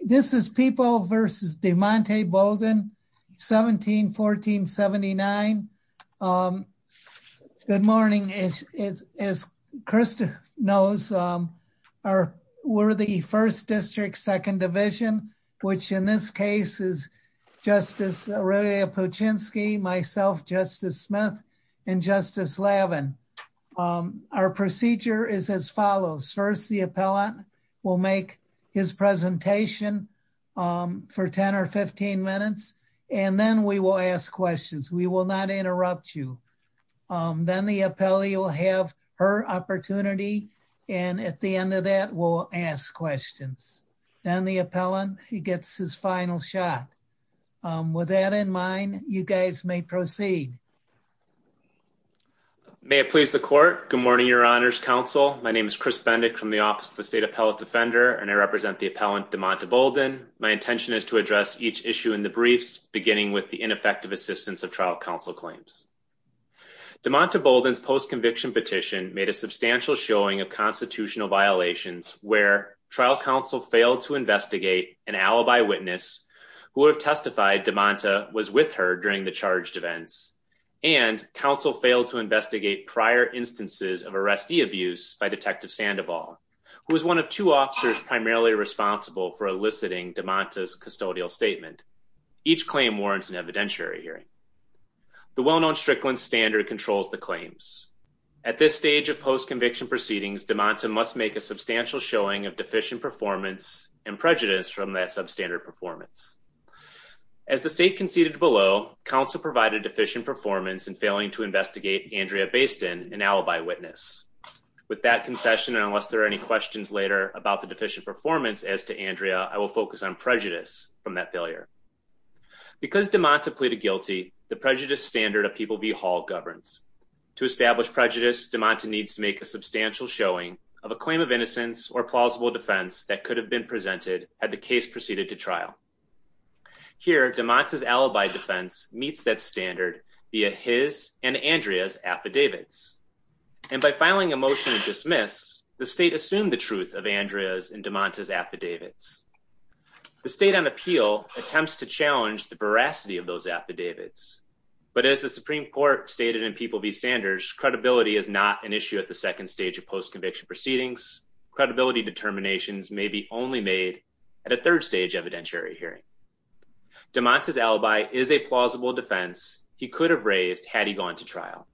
This is People v. DeMonte Bolden, 17-1479. Good morning. As Krista knows, we're the 1st District, 2nd Division, which in this case is Justice Aurelia Puchinski, myself, Justice Smith, and Justice Lavin. Our procedure is as follows. First, the appellant will make his presentation for 10 or 15 minutes, and then we will ask questions. We will not interrupt you. Then the appellee will have her opportunity, and at the end of that, we'll ask questions. Then the appellant gets his final shot. With that in mind, you guys may proceed. May it please the Court. Good morning, Your Honors Counsel. My name is Chris Bendick from the Office of the State Appellate Defender, and I represent the appellant, DeMonte Bolden. My intention is to address each issue in the briefs, beginning with the ineffective assistance of trial counsel claims. DeMonte Bolden's post-conviction petition made a substantial showing of constitutional violations where trial counsel failed to investigate an alibi witness who would have testified DeMonte was with her during the charged events, and counsel failed to investigate prior instances of arrestee abuse by Detective Sandoval, who was one of two officers primarily responsible for eliciting DeMonte's custodial statement. Each claim warrants an evidentiary hearing. The well-known Strickland standard controls the claims. At this stage of post-conviction proceedings, DeMonte must make a substantial showing of deficient performance and prejudice from that substandard performance. As the State conceded below, counsel provided deficient performance in failing to investigate Andrea Bayston, an alibi witness. With that concession, and unless there are any questions later about the deficient performance as to Andrea, I will focus on prejudice from that failure. Because DeMonte pleaded guilty, the prejudice standard of People v. Hall governs. To establish prejudice, DeMonte needs to make a substantial showing of a claim of innocence or plausible defense that could have been presented had the case proceeded to trial. Here, DeMonte's alibi defense meets that standard via his and Andrea's affidavits. And by filing a motion to dismiss, the State assumed the truth of Andrea's and DeMonte's affidavits. The State on appeal attempts to challenge the veracity of those affidavits. But as the Supreme Court stated in People v. Sanders, credibility is not an issue at the second stage of post-conviction proceedings. Credibility determinations may be only made at a third stage evidentiary hearing. DeMonte's alibi is a plausible defense he could have raised had he gone to trial.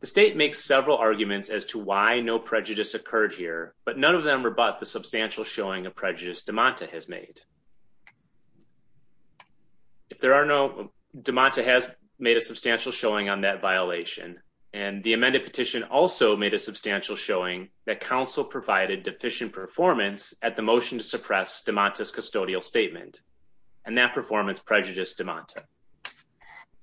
The State makes several arguments as to why no prejudice occurred here, but none of them rebut the substantial showing of prejudice DeMonte has made. DeMonte has made a substantial showing on that violation. And the amended petition also made a substantial showing that counsel provided deficient performance at the motion to suppress DeMonte's custodial statement. And that performance prejudiced DeMonte.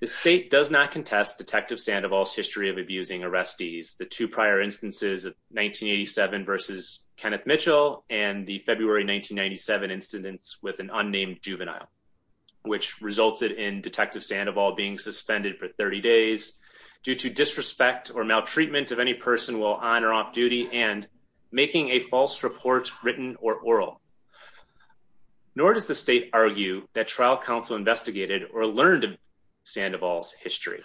The State does not contest Detective Sandoval's history of abusing arrestees. The two prior instances of 1987 versus Kenneth Mitchell and the February 1997 incidents with an unnamed juvenile, which resulted in Detective Sandoval being suspended for 30 days due to disrespect or maltreatment of any person while on or off duty and making a false report written or oral. Nor does the State argue that trial counsel investigated or learned of Sandoval's history.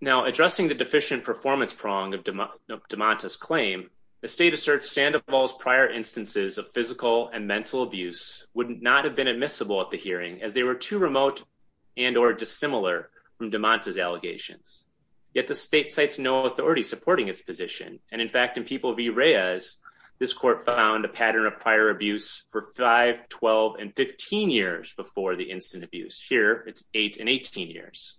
Now addressing the deficient performance prong of DeMonte's claim, the State asserts Sandoval's prior instances of physical and mental abuse would not have been admissible at the hearing as they were too remote and or dissimilar from DeMonte's allegations. Yet the State cites no authority supporting its position. And in fact, in People v. Reyes, this court found a pattern of prior abuse for 5, 12, and 15 years before the instant abuse. Here it's 8 and 18 years.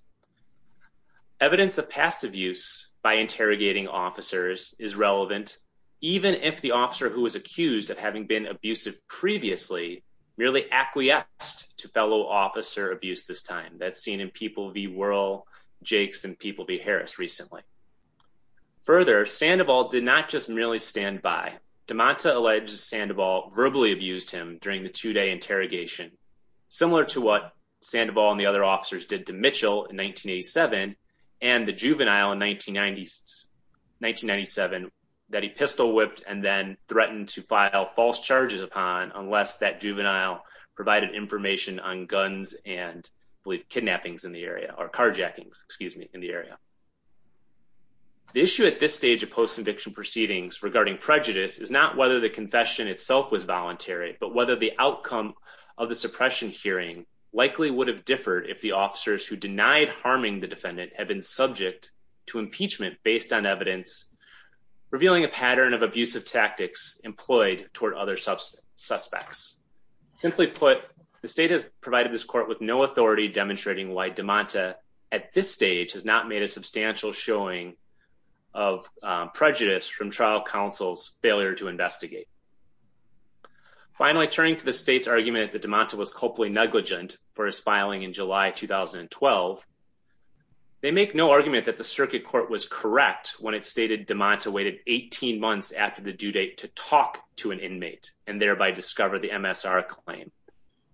Evidence of past abuse by interrogating officers is relevant, even if the officer who was accused of having been abusive previously merely acquiesced to fellow officer abuse this time. That's seen in People v. Wuerl, Jakes, and People v. Harris recently. Further, Sandoval did not just merely stand by. DeMonte alleges Sandoval verbally abused him during the two-day interrogation, similar to what Sandoval and the other officers did to Mitchell in 1987 and the juvenile in 1997 that he pistol-whipped and then threatened to file false charges upon unless that juvenile provided information on guns and, I believe, kidnappings in the area, or carjackings, excuse me, in the area. The issue at this stage of post-conviction proceedings regarding prejudice is not whether the confession itself was voluntary, but whether the outcome of the suppression hearing likely would have differed if the officers who denied harming the defendant had been subject to impeachment based on evidence revealing a pattern of abusive tactics employed toward other suspects. Simply put, the state has provided this court with no authority demonstrating why DeMonte, at this stage, has not made a substantial showing of prejudice from trial counsel's failure to investigate. Finally, turning to the state's argument that DeMonte was culpably negligent for his filing in July 2012, they make no argument that the circuit court was correct when it stated DeMonte waited 18 months after the due date to talk to an inmate and thereby discover the MSR claim.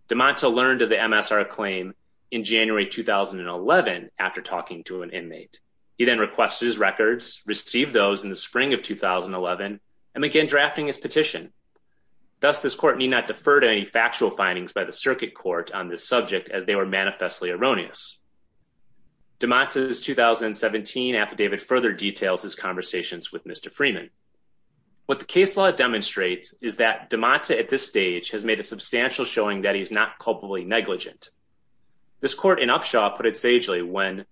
DeMonte learned of the MSR claim in January 2011 after talking to an inmate. He then requested his records, received those in the spring of 2011, and began drafting his petition. Thus, this court need not defer to any factual findings by the circuit court on this subject as they were manifestly erroneous. DeMonte's 2017 affidavit further details his conversations with Mr. Freeman. What the case law demonstrates is that DeMonte, at this stage, has made a substantial showing that he is not culpably negligent. This court in Upshaw put it sagely when,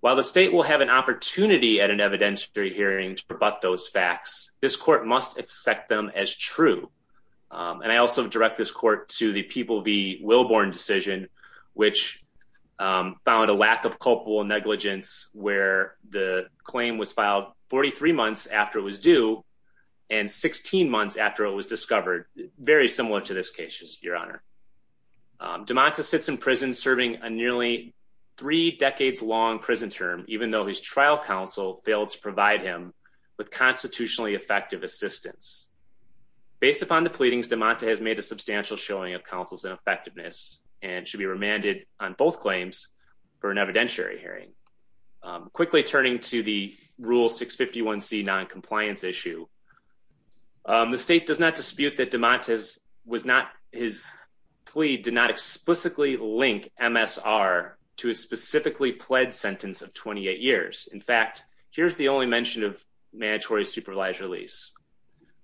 while the state will have an opportunity at an evidentiary hearing to rebut those facts, this court must accept them as true. And I also direct this court to the People v. Willborn decision, which found a lack of culpable negligence where the claim was filed 43 months after it was due and 16 months after it was discovered. Very similar to this case, Your Honor. DeMonte sits in prison serving a nearly three decades long prison term, even though his trial counsel failed to provide him with constitutionally effective assistance. Based upon the pleadings, DeMonte has made a substantial showing of counsel's ineffectiveness and should be remanded on both claims for an evidentiary hearing. Quickly turning to the Rule 651C noncompliance issue, the state does not dispute that DeMonte's plea did not explicitly link MSR to a specifically pled sentence of 28 years. In fact, here's the only mention of mandatory supervised release.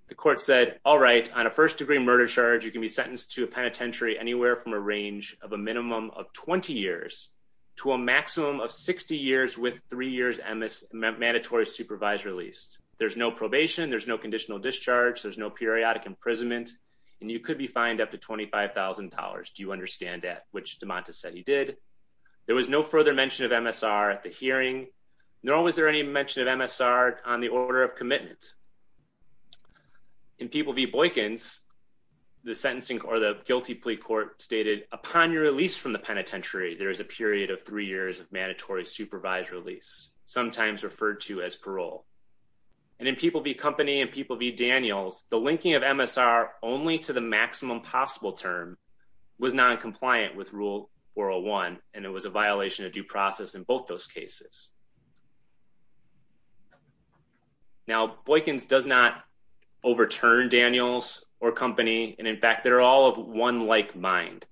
The court said, all right, on a first degree murder charge, you can be sentenced to a penitentiary anywhere from a range of a minimum of 20 years to a maximum of 60 years with three years mandatory supervised release. There's no probation. There's no conditional discharge. There's no periodic imprisonment and you could be fined up to $25,000. Do you understand that? Which DeMonte said he did. There was no further mention of MSR at the hearing, nor was there any mention of MSR on the order of commitment. In People v. Boykins, the sentencing or the guilty plea court stated, upon your release from the penitentiary, there is a period of three years of mandatory supervised release, sometimes referred to as parole. And in People v. Company and People v. Daniels, the linking of MSR only to the maximum possible term was noncompliant with Rule 401, and it was a violation of due process in both those cases. Now, Boykins does not overturn Daniels or Company, and in fact, they're all of one like mind.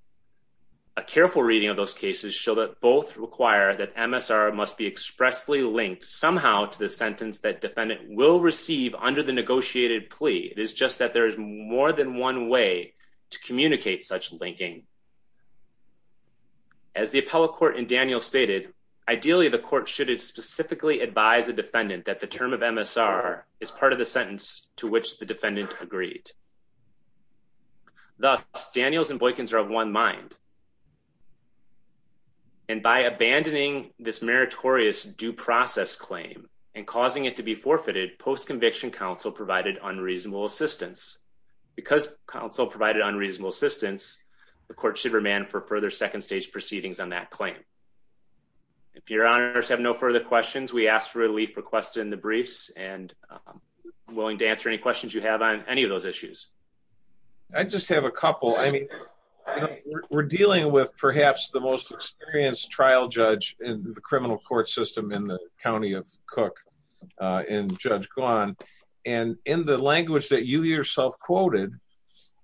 A careful reading of those cases show that both require that MSR must be expressly linked somehow to the sentence that defendant will receive under the negotiated plea. It is just that there is more than one way to communicate such linking. As the appellate court in Daniels stated, ideally, the court should have specifically advised the defendant that the term of MSR is part of the sentence to which the defendant agreed. Thus, Daniels and Boykins are of one mind. And by abandoning this meritorious due process claim and causing it to be forfeited, post-conviction counsel provided unreasonable assistance. Because counsel provided unreasonable assistance, the court should remand for further second stage proceedings on that claim. If your honors have no further questions, we ask for relief requested in the briefs, and I'm willing to answer any questions you have on any of those issues. I just have a couple. I mean, we're dealing with perhaps the most experienced trial judge in the criminal court system in the County of Cook in Judge Gawne. And in the language that you yourself quoted,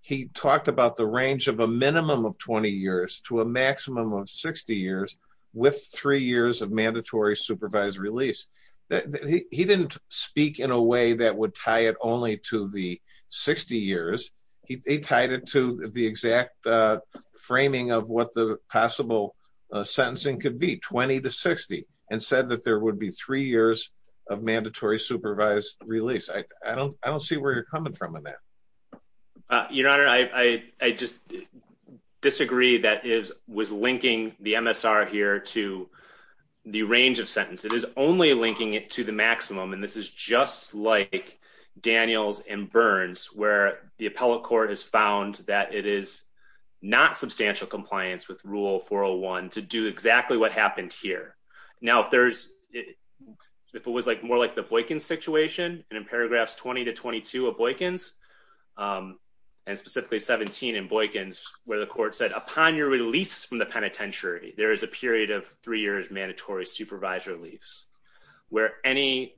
he talked about the range of a minimum of 20 years to a maximum of 60 years with three years of mandatory supervised release. He didn't speak in a way that would tie it only to the 60 years. He tied it to the exact framing of what the possible sentencing could be, 20 to 60, and said that there would be three years of mandatory supervised release. I don't see where you're coming from on that. Your Honor, I just disagree that it was linking the MSR here to the range of sentence. It is only linking it to the maximum, and this is just like Daniels and Burns, where the appellate court has found that it is not substantial compliance with Rule 401 to do exactly what happened here. Now, if it was more like the Boykins situation, and in paragraphs 20 to 22 of Boykins, and specifically 17 in Boykins, where the court said, upon your release from the penitentiary, there is a period of three years mandatory supervised release, where any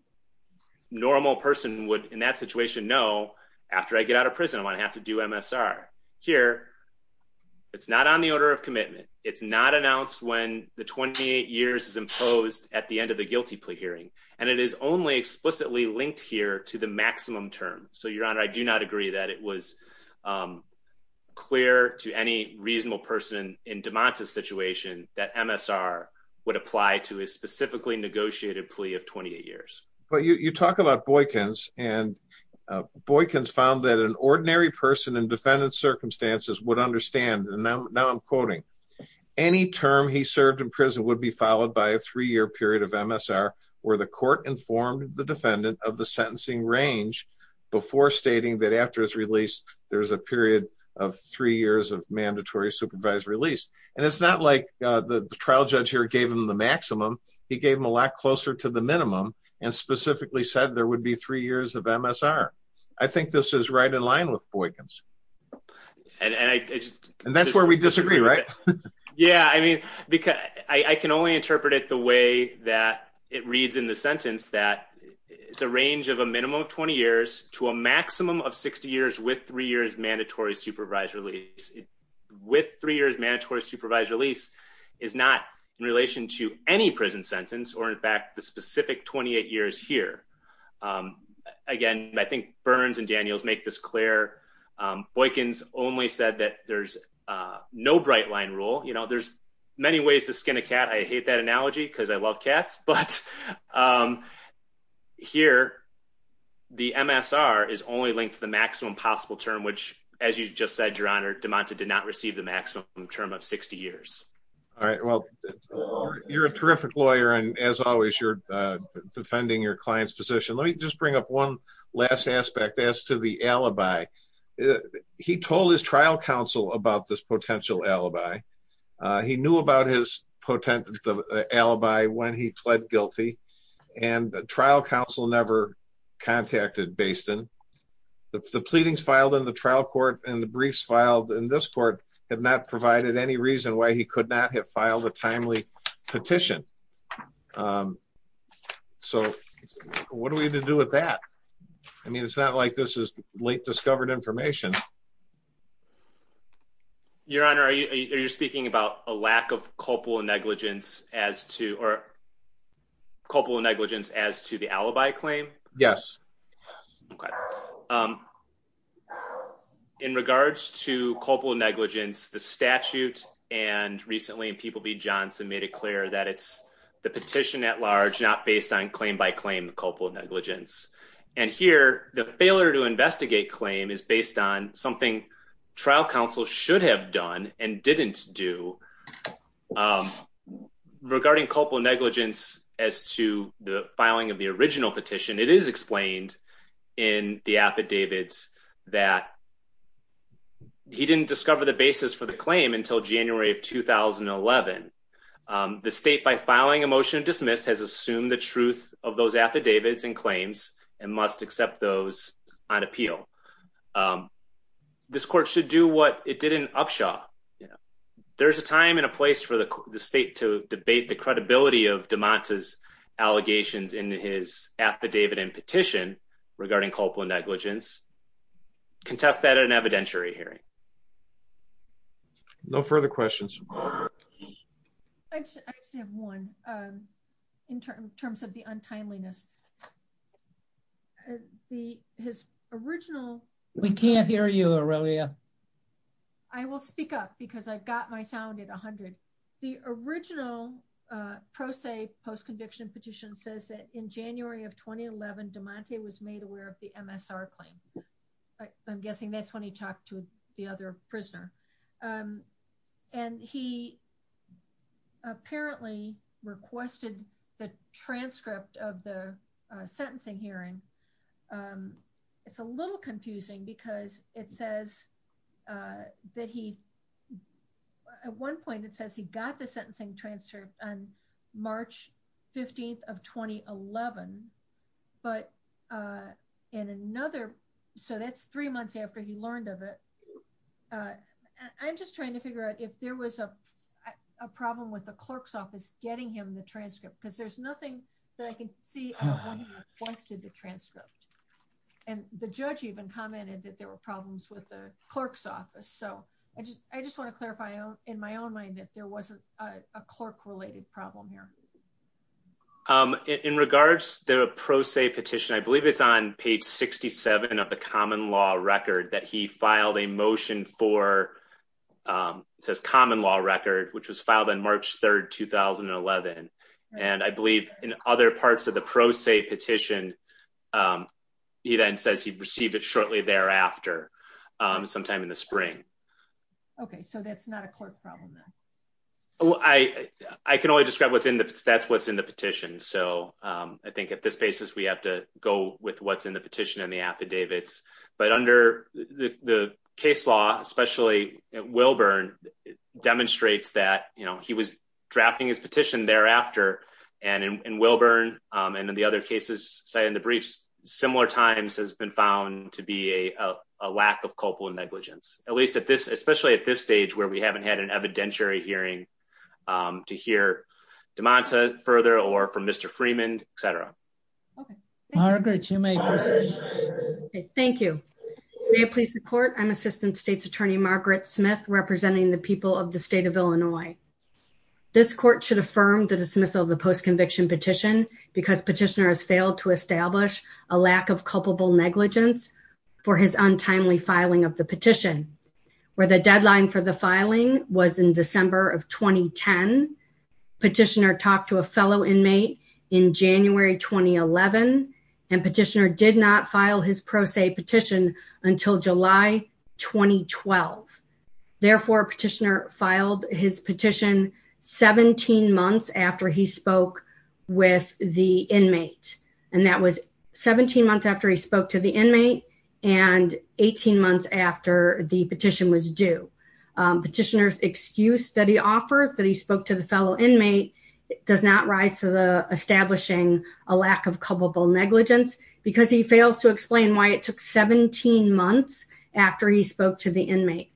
normal person would, in that situation, know, after I get out of prison, I'm going to have to do MSR. Here, it's not on the order of commitment. It's not announced when the 28 years is imposed at the end of the guilty plea hearing, and it is only explicitly linked here to the maximum term. So, Your Honor, I do not agree that it was clear to any reasonable person in DeMonte's situation that MSR would apply to a specifically negotiated plea of 28 years. But you talk about Boykins, and Boykins found that an ordinary person in defendant circumstances would understand, and now I'm quoting, any term he served in prison would be followed by a three-year period of MSR where the court informed the defendant of the sentencing range before stating that after his release, there's a period of three years of mandatory supervised release. And it's not like the trial judge here gave him the maximum. He gave him a lot closer to the minimum and specifically said there would be three years of MSR. I think this is right in line with Boykins. And that's where we disagree, right? Yeah, I mean, I can only interpret it the way that it reads in the sentence that it's a range of a minimum of 20 years to a maximum of 60 years with three years mandatory supervised release. With three years mandatory supervised release is not in relation to any prison sentence or, in fact, the specific 28 years here. Again, I think Burns and Daniels make this clear. Boykins only said that there's no bright line rule. You know, there's many ways to skin a cat. I hate that analogy because I love cats. But here, the MSR is only linked to the maximum possible term, which, as you just said, Your Honor, DeMonte did not receive the maximum term of 60 years. All right. Well, you're a terrific lawyer. And as always, you're defending your client's position. Let me just bring up one last aspect as to the alibi. He told his trial counsel about this potential alibi. He knew about his potential alibi when he pled guilty. And the trial counsel never contacted Baston. The pleadings filed in the trial court and the briefs filed in this court have not provided any reason why he could not have filed a timely petition. So what do we do with that? I mean, it's not like this is late discovered information. Your Honor, you're speaking about a lack of culpable negligence as to or. In regards to culpable negligence, the statute and recently in People v. Johnson made it clear that it's the petition at large, not based on claim by claim culpable negligence. And here, the failure to investigate claim is based on something trial counsel should have done and didn't do. Regarding culpable negligence as to the filing of the original petition, it is explained in the affidavits that. He didn't discover the basis for the claim until January of 2011. The state, by filing a motion to dismiss, has assumed the truth of those affidavits and claims and must accept those on appeal. This court should do what it did in Upshaw. There's a time and a place for the state to debate the credibility of DeMont's allegations in his affidavit and petition regarding culpable negligence. Contest that at an evidentiary hearing. No further questions. I just have one in terms of the untimeliness. We can't hear you, Aurelia. I will speak up because I've got my sound at 100. The original pro se post conviction petition says that in January of 2011 DeMonte was made aware of the MSR claim. I'm guessing that's when he talked to the other prisoner. And he apparently requested the transcript of the sentencing hearing. It's a little confusing because it says that he at one point it says he got the sentencing transfer on March 15th of 2011. But in another. So that's three months after he learned of it. I'm just trying to figure out if there was a problem with the clerk's office getting him the transcript because there's nothing that I can see. Once did the transcript. And the judge even commented that there were problems with the clerk's office so I just I just want to clarify in my own mind that there wasn't a clerk related problem here. In regards to the pro se petition, I believe it's on page 67 of the common law record that he filed a motion for says common law record, which was filed on March 3rd, 2011. And I believe in other parts of the pro se petition. He then says he received it shortly thereafter, sometime in the spring. Okay, so that's not a clerk problem. I can only describe what's in the stats what's in the petition so I think at this basis we have to go with what's in the petition and the affidavits, but under the case law, especially Wilburn demonstrates that you know he was drafting his petition thereafter, and in Wilburn, and in the other cases cited in the briefs, similar times has been found to be a lack of culpable negligence, at least at this especially at this stage where we haven't had an evidentiary hearing to hear demands further or from Mr. Freeman, etc. Margaret you may. Thank you. Please support I'm Assistant State's Attorney Margaret Smith representing the people of the state of Illinois. This court should affirm the dismissal of the post conviction petition, because petitioner has failed to establish a lack of culpable negligence for his untimely filing of the petition, where the deadline for the filing was in December of 2010 petitioner talked to a fellow inmate in January 2011 and petitioner did not file his pro se petition until July, 2012. Therefore petitioner filed his petition 17 months after he spoke with the inmate, and that was 17 months after he spoke to the inmate and 18 months after the petition was do petitioners excuse that he offers that he spoke to the fellow inmate. He does not rise to the establishing a lack of culpable negligence, because he fails to explain why it took 17 months after he spoke to the inmate.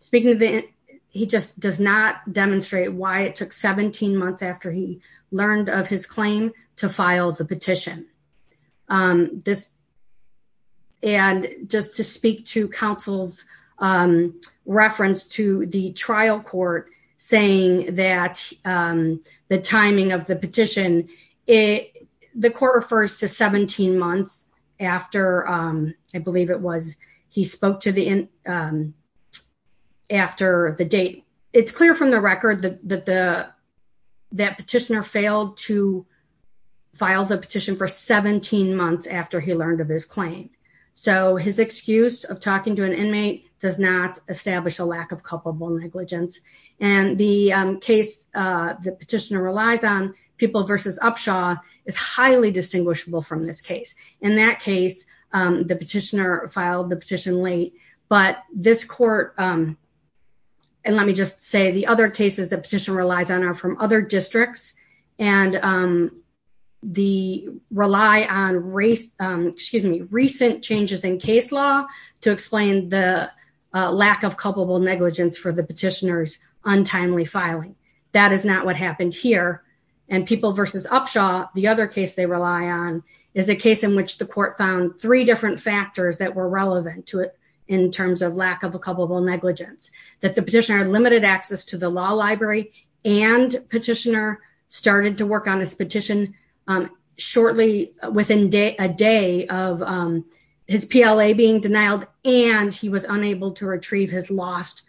Speaking of it. He just does not demonstrate why it took 17 months after he learned of his claim to file the petition. This. And just to speak to counsel's reference to the trial court, saying that the timing of the petition. It. The quarter first to 17 months after I believe it was, he spoke to the end. It's clear from the record that the that petitioner failed to file the petition for 17 months after he learned of his claim. So his excuse of talking to an inmate does not establish a lack of culpable negligence, and the case. The petitioner relies on people versus Upshaw is highly distinguishable from this case. In that case, the petitioner filed the petition late, but this court. And let me just say the other cases that petition relies on are from other districts and the rely on race, excuse me, recent changes in case law to explain the lack of culpable negligence for the petitioners untimely filing. That is not what happened here. And people versus Upshaw. The other case they rely on is a case in which the court found three different factors that were relevant to it in terms of lack of a couple of negligence that the petitioner limited access to the law library and petitioner started to work on this petition. Shortly within day a day of his PLA being denied, and he was unable to retrieve his last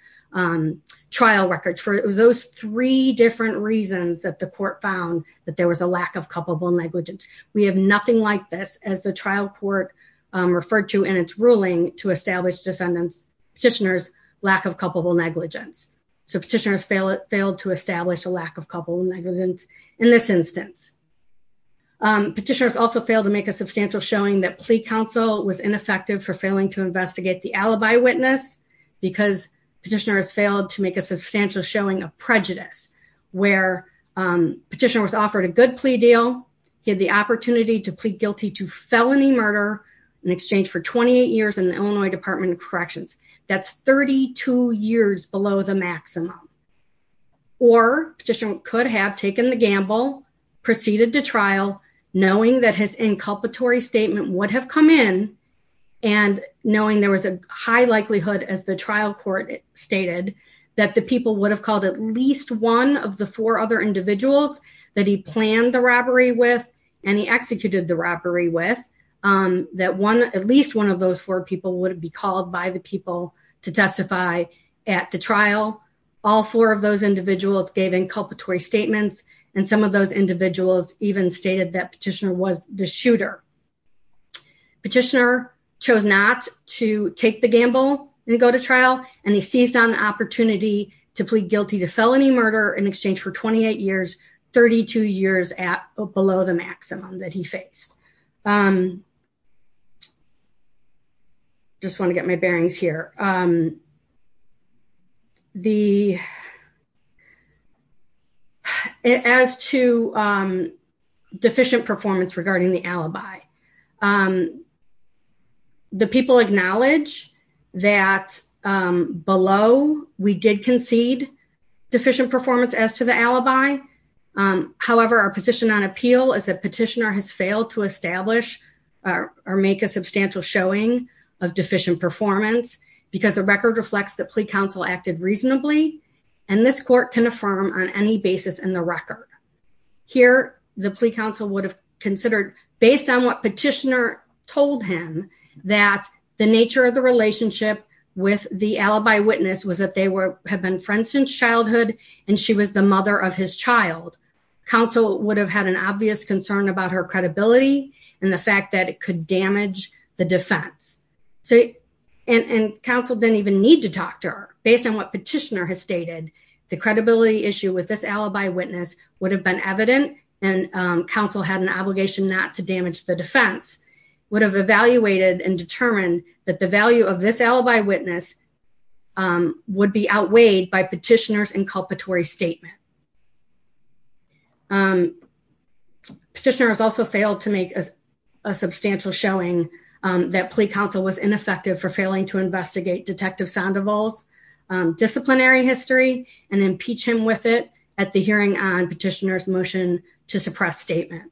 Trial records for those three different reasons that the court found that there was a lack of culpable negligence. We have nothing like this as the trial court. Referred to in its ruling to establish defendants petitioners lack of culpable negligence so petitioners fail it failed to establish a lack of couple negligence in this instance. Petitioners also failed to make a substantial showing that plea council was ineffective for failing to investigate the alibi witness because petitioner has failed to make a substantial showing a prejudice where Petition was offered a good plea deal, get the opportunity to plead guilty to felony murder in exchange for 28 years in the Illinois Department of Corrections. That's 32 years below the maximum Or petitioner could have taken the gamble proceeded to trial, knowing that his inculpatory statement would have come in. And knowing there was a high likelihood as the trial court stated that the people would have called at least one of the four other individuals that he planned the robbery with and he executed the robbery with That one at least one of those four people would be called by the people to testify at the trial. All four of those individuals gave inculpatory statements and some of those individuals even stated that petitioner was the shooter. Petitioner chose not to take the gamble and go to trial and he seized on the opportunity to plead guilty to felony murder in exchange for 28 years 32 years at below the maximum that he faced I'm Just want to get my bearings here. The As to Deficient performance regarding the alibi. The people acknowledge that below we did concede deficient performance as to the alibi. However, our position on appeal is that petitioner has failed to establish or make a substantial showing of deficient performance because the record reflects the plea council acted reasonably And this court can affirm on any basis in the record. Here, the plea council would have considered based on what petitioner told him that the nature of the relationship with the alibi witness was that they were have been friends since childhood, and she was the mother of his child. Council would have had an obvious concern about her credibility and the fact that it could damage the defense. So, and Council didn't even need to talk to her based on what petitioner has stated the credibility issue with this alibi witness would have been evident and Council had an obligation not to damage the defense would have evaluated and determine that the value of this alibi witness would be outweighed by petitioners inculpatory statement. Petitioners also failed to make a substantial showing that plea council was ineffective for failing to investigate detective sound of all Disciplinary history and impeach him with it at the hearing on petitioners motion to suppress statement.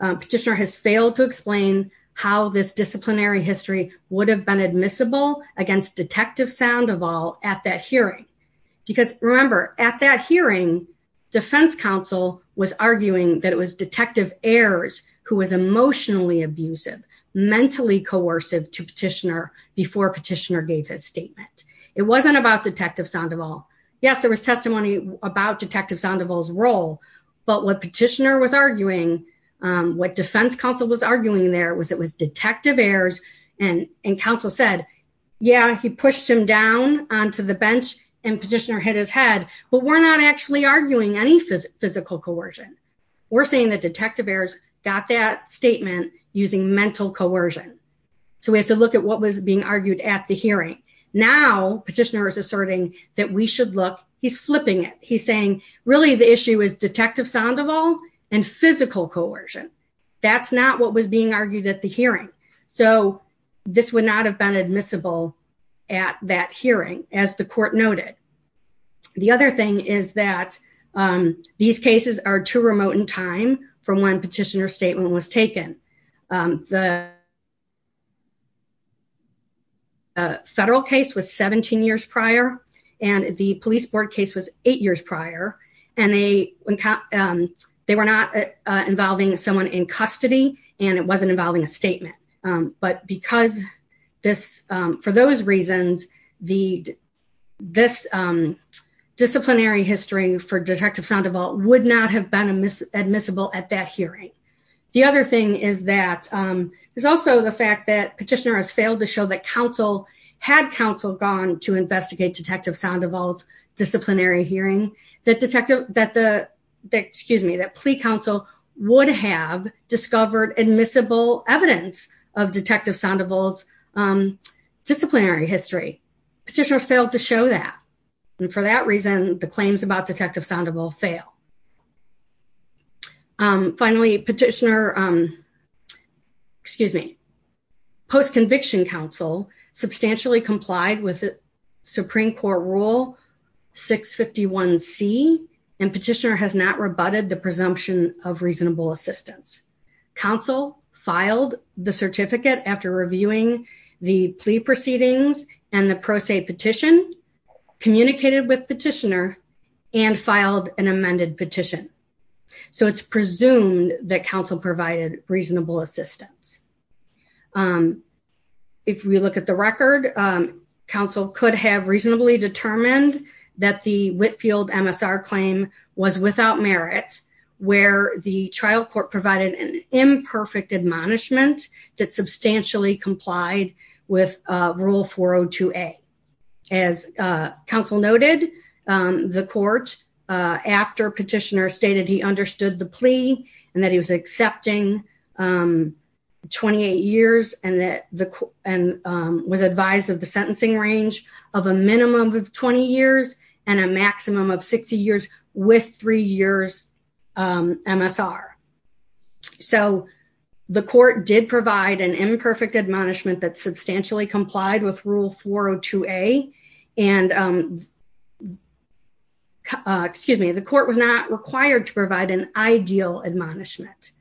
Petitioner has failed to explain how this disciplinary history would have been admissible against detective sound of all at that hearing. Because remember at that hearing defense counsel was arguing that it was detective airs, who was emotionally abusive mentally coercive to petitioner before petitioner gave his statement. It wasn't about detective sound of all yes there was testimony about detective sound of all his role, but what petitioner was arguing What defense counsel was arguing there was it was detective airs and and Council said, yeah, he pushed him down onto the bench and petitioner hit his head, but we're not actually arguing any physical physical coercion. We're saying that detective airs got that statement using mental coercion. So we have to look at what was being argued at the hearing now petitioners asserting that we should look he's flipping it. He's saying, really, the issue is detective sound of all and physical coercion. That's not what was being argued at the hearing. So this would not have been admissible at that hearing as the court noted. The other thing is that these cases are too remote in time for one petitioner statement was taken the Federal case was 17 years prior and the police board case was eight years prior and they They were not involving someone in custody and it wasn't involving a statement, but because this for those reasons, the this Disciplinary history for detective sound of all would not have been a miss admissible at that hearing. The other thing is that There's also the fact that petitioner has failed to show that Council had Council gone to investigate detective sound of all disciplinary hearing that detective that the Excuse me, that plea Council would have discovered admissible evidence of detective sound of all Disciplinary history petitioner failed to show that. And for that reason, the claims about detective sound of all fail. Finally, petitioner. Excuse me, post conviction Council substantially complied with the Supreme Court rule 651 C and petitioner has not rebutted the presumption of reasonable assistance. Council filed the certificate after reviewing the plea proceedings and the pro se petition communicated with petitioner and filed an amended petition. So it's presumed that Council provided reasonable assistance. If we look at the record Council could have reasonably determined that the Whitfield MSR claim was without merit, where the trial court provided an imperfect admonishment that substantially complied with rule 402 a As Council noted the court after petitioner stated he understood the plea and that he was accepting 28 years and that the and was advised of the sentencing range of a minimum of 20 years and a maximum of 60 years with three years MSR So the court did provide an imperfect admonishment that substantially complied with rule 402 a and Excuse me, the court was not required to provide an ideal admonishment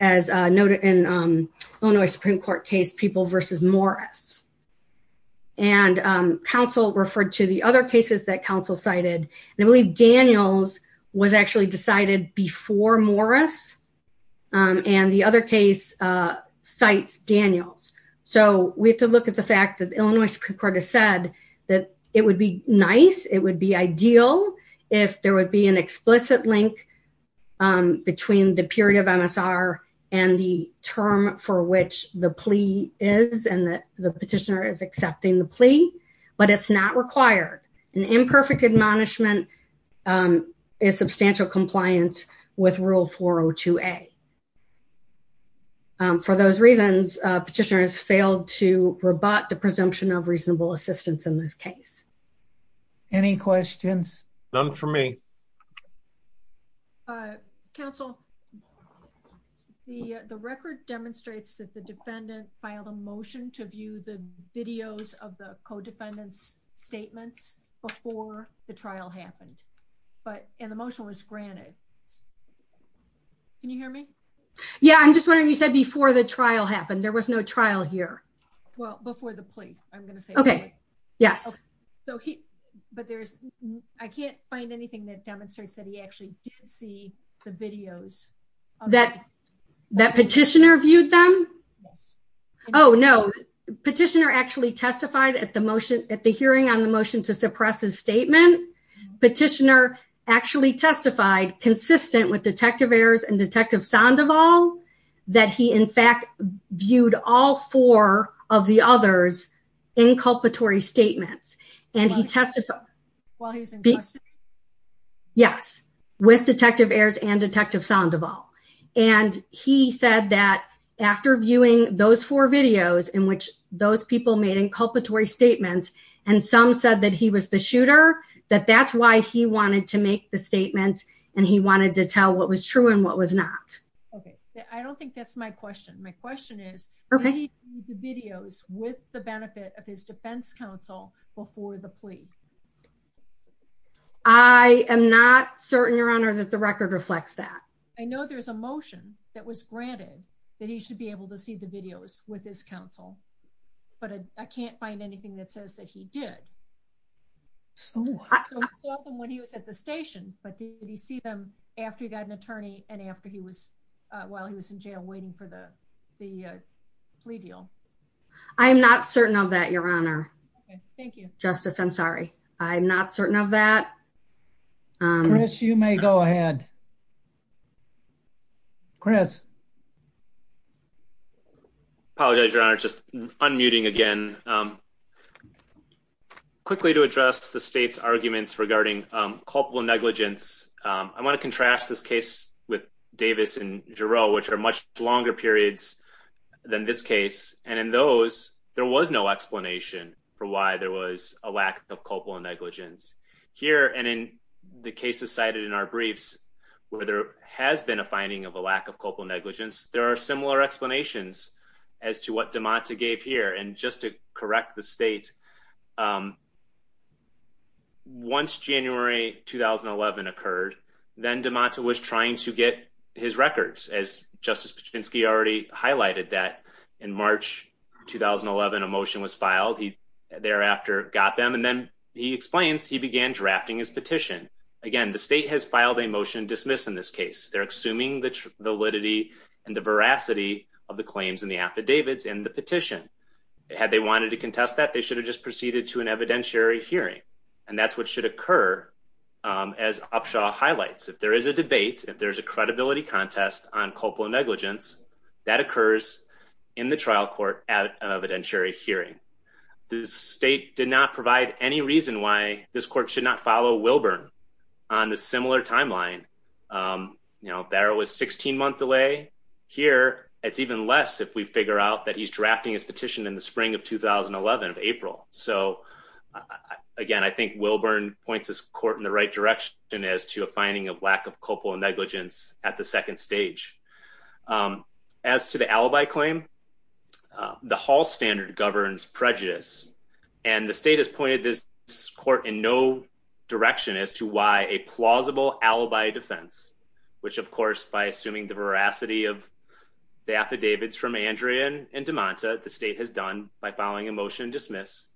as noted in Illinois Supreme Court case people versus Morris. And Council referred to the other cases that Council cited and I believe Daniels was actually decided before Morris and the other case. Cites Daniels. So we have to look at the fact that Illinois Supreme Court has said that it would be nice. It would be ideal if there would be an explicit link Between the period of MSR and the term for which the plea is and that the petitioner is accepting the plea, but it's not required an imperfect admonishment. Is substantial compliance with rule 402 a For those reasons petitioners failed to rebut the presumption of reasonable assistance in this case. Any questions. None for me. Council. The, the record demonstrates that the defendant filed a motion to view the videos of the co defendants statements before the trial happened, but an emotional is granted. Can you hear me. Yeah, I'm just wondering, you said before the trial happened. There was no trial here. Well, before the plea. I'm going to say, Okay, yes. But there's, I can't find anything that demonstrates that he actually did see the videos. That that petitioner viewed them. Oh no petitioner actually testified at the motion at the hearing on the motion to suppress his statement petitioner actually testified consistent with detective errors and detective sound of all that he in fact viewed all four of the others inculpatory statements and he tested. Yes, with detective errors and detective sound of all, and he said that after viewing those four videos in which those people made inculpatory statements, and some said that he was the shooter, that that's why he wanted to make the statement, and he wanted to tell what was true and what was not. Okay, I don't think that's my question. My question is, okay, the videos with the benefit of his defense counsel before the plea. I am not certain your honor that the record reflects that I know there's a motion that was granted that he should be able to see the videos with his counsel, but I can't find anything that says that he did. When he was at the station, but did he see them after you got an attorney, and after he was while he was in jail waiting for the, the plea deal. I'm not certain of that your honor. Thank you, Justice I'm sorry. I'm not certain of that. Chris you may go ahead. Chris apologize your honor just unmuting again. Quickly to address the state's arguments regarding culpable negligence. I want to contrast this case with Davis and Jarrell which are much longer periods than this case, and in those, there was no explanation for why there was a lack of culpable negligence here and in the cases cited in our briefs, where there has been a finding of a lack of culpable negligence, there are similar explanations as to what Demonta gave here and just to correct the state. Once January, 2011 occurred, then Demonta was trying to get his records as Justice Patrinsky already highlighted that in March, 2011 emotion was filed he thereafter got them and then he explains he began drafting his petition. Again, the state has filed a motion dismiss in this case they're assuming the validity and the veracity of the claims in the affidavits in the petition. Had they wanted to contest that they should have just proceeded to an evidentiary hearing. And that's what should occur. As Upshaw highlights if there is a debate, if there's a credibility contest on culpable negligence that occurs in the trial court at an evidentiary hearing the state did not provide any reason why this court should not follow Wilburn on the similar timeline. You know, there was 16 month delay here, it's even less if we figure out that he's drafting his petition in the spring of 2011 of April. So, again, I think Wilburn points this court in the right direction as to a finding of lack of culpable negligence at the second stage. As to the alibi claim, the Hall standard governs prejudice and the state has pointed this court in no direction as to why a plausible alibi defense, which of course by assuming the veracity of the affidavits from Andrea and Demonta the state has done by following emotion dismiss.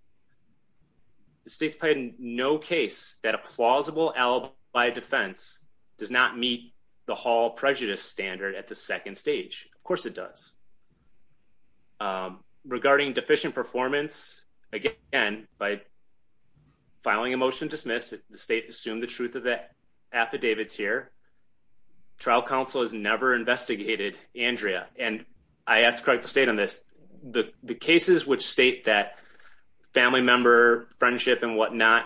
The state's played no case that a plausible alibi defense does not meet the Hall prejudice standard at the second stage. Of course it does. Regarding deficient performance again by filing emotion dismiss the state assume the truth of the affidavits here. Trial counsel has never investigated Andrea and I have to correct the state on this. The cases which state that family member friendship and whatnot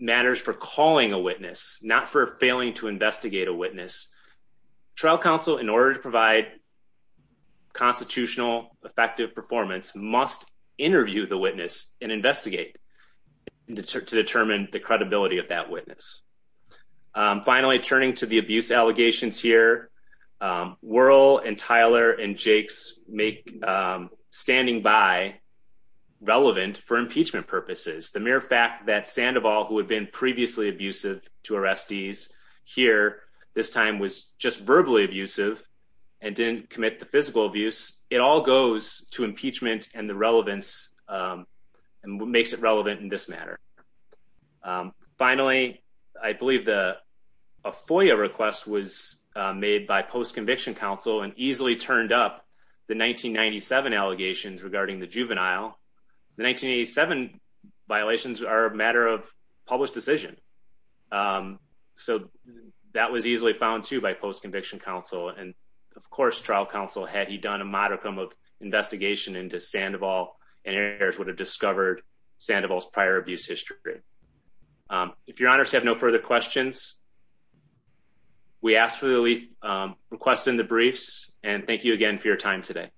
matters for calling a witness not for failing to investigate a witness trial counsel in order to provide constitutional effective performance must interview the witness and investigate to determine the credibility of that witness. Finally, turning to the abuse allegations here, Whirl and Tyler and Jake's make standing by relevant for impeachment purposes. The mere fact that Sandoval who had been previously abusive to arrestees here this time was just verbally abusive and didn't commit the physical abuse. It all goes to impeachment and the relevance and what makes it relevant in this matter. Finally, I believe the FOIA request was made by post conviction counsel and easily turned up the 1997 allegations regarding the juvenile. The 1987 violations are a matter of published decision. So that was easily found to by post conviction counsel and of course trial counsel had he done a modicum of investigation into Sandoval and errors would have discovered Sandoval's prior abuse history. If you're honest, have no further questions. We asked for the leaf request in the briefs and thank you again for your time today.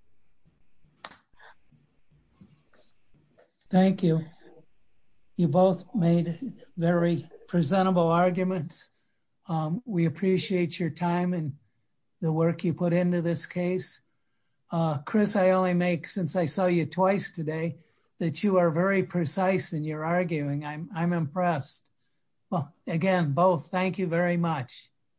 Thank you. You both made very presentable arguments. We appreciate your time and the work you put into this case. Chris, I only make since I saw you twice today that you are very precise and you're arguing I'm impressed. Well, again, both. Thank you very much.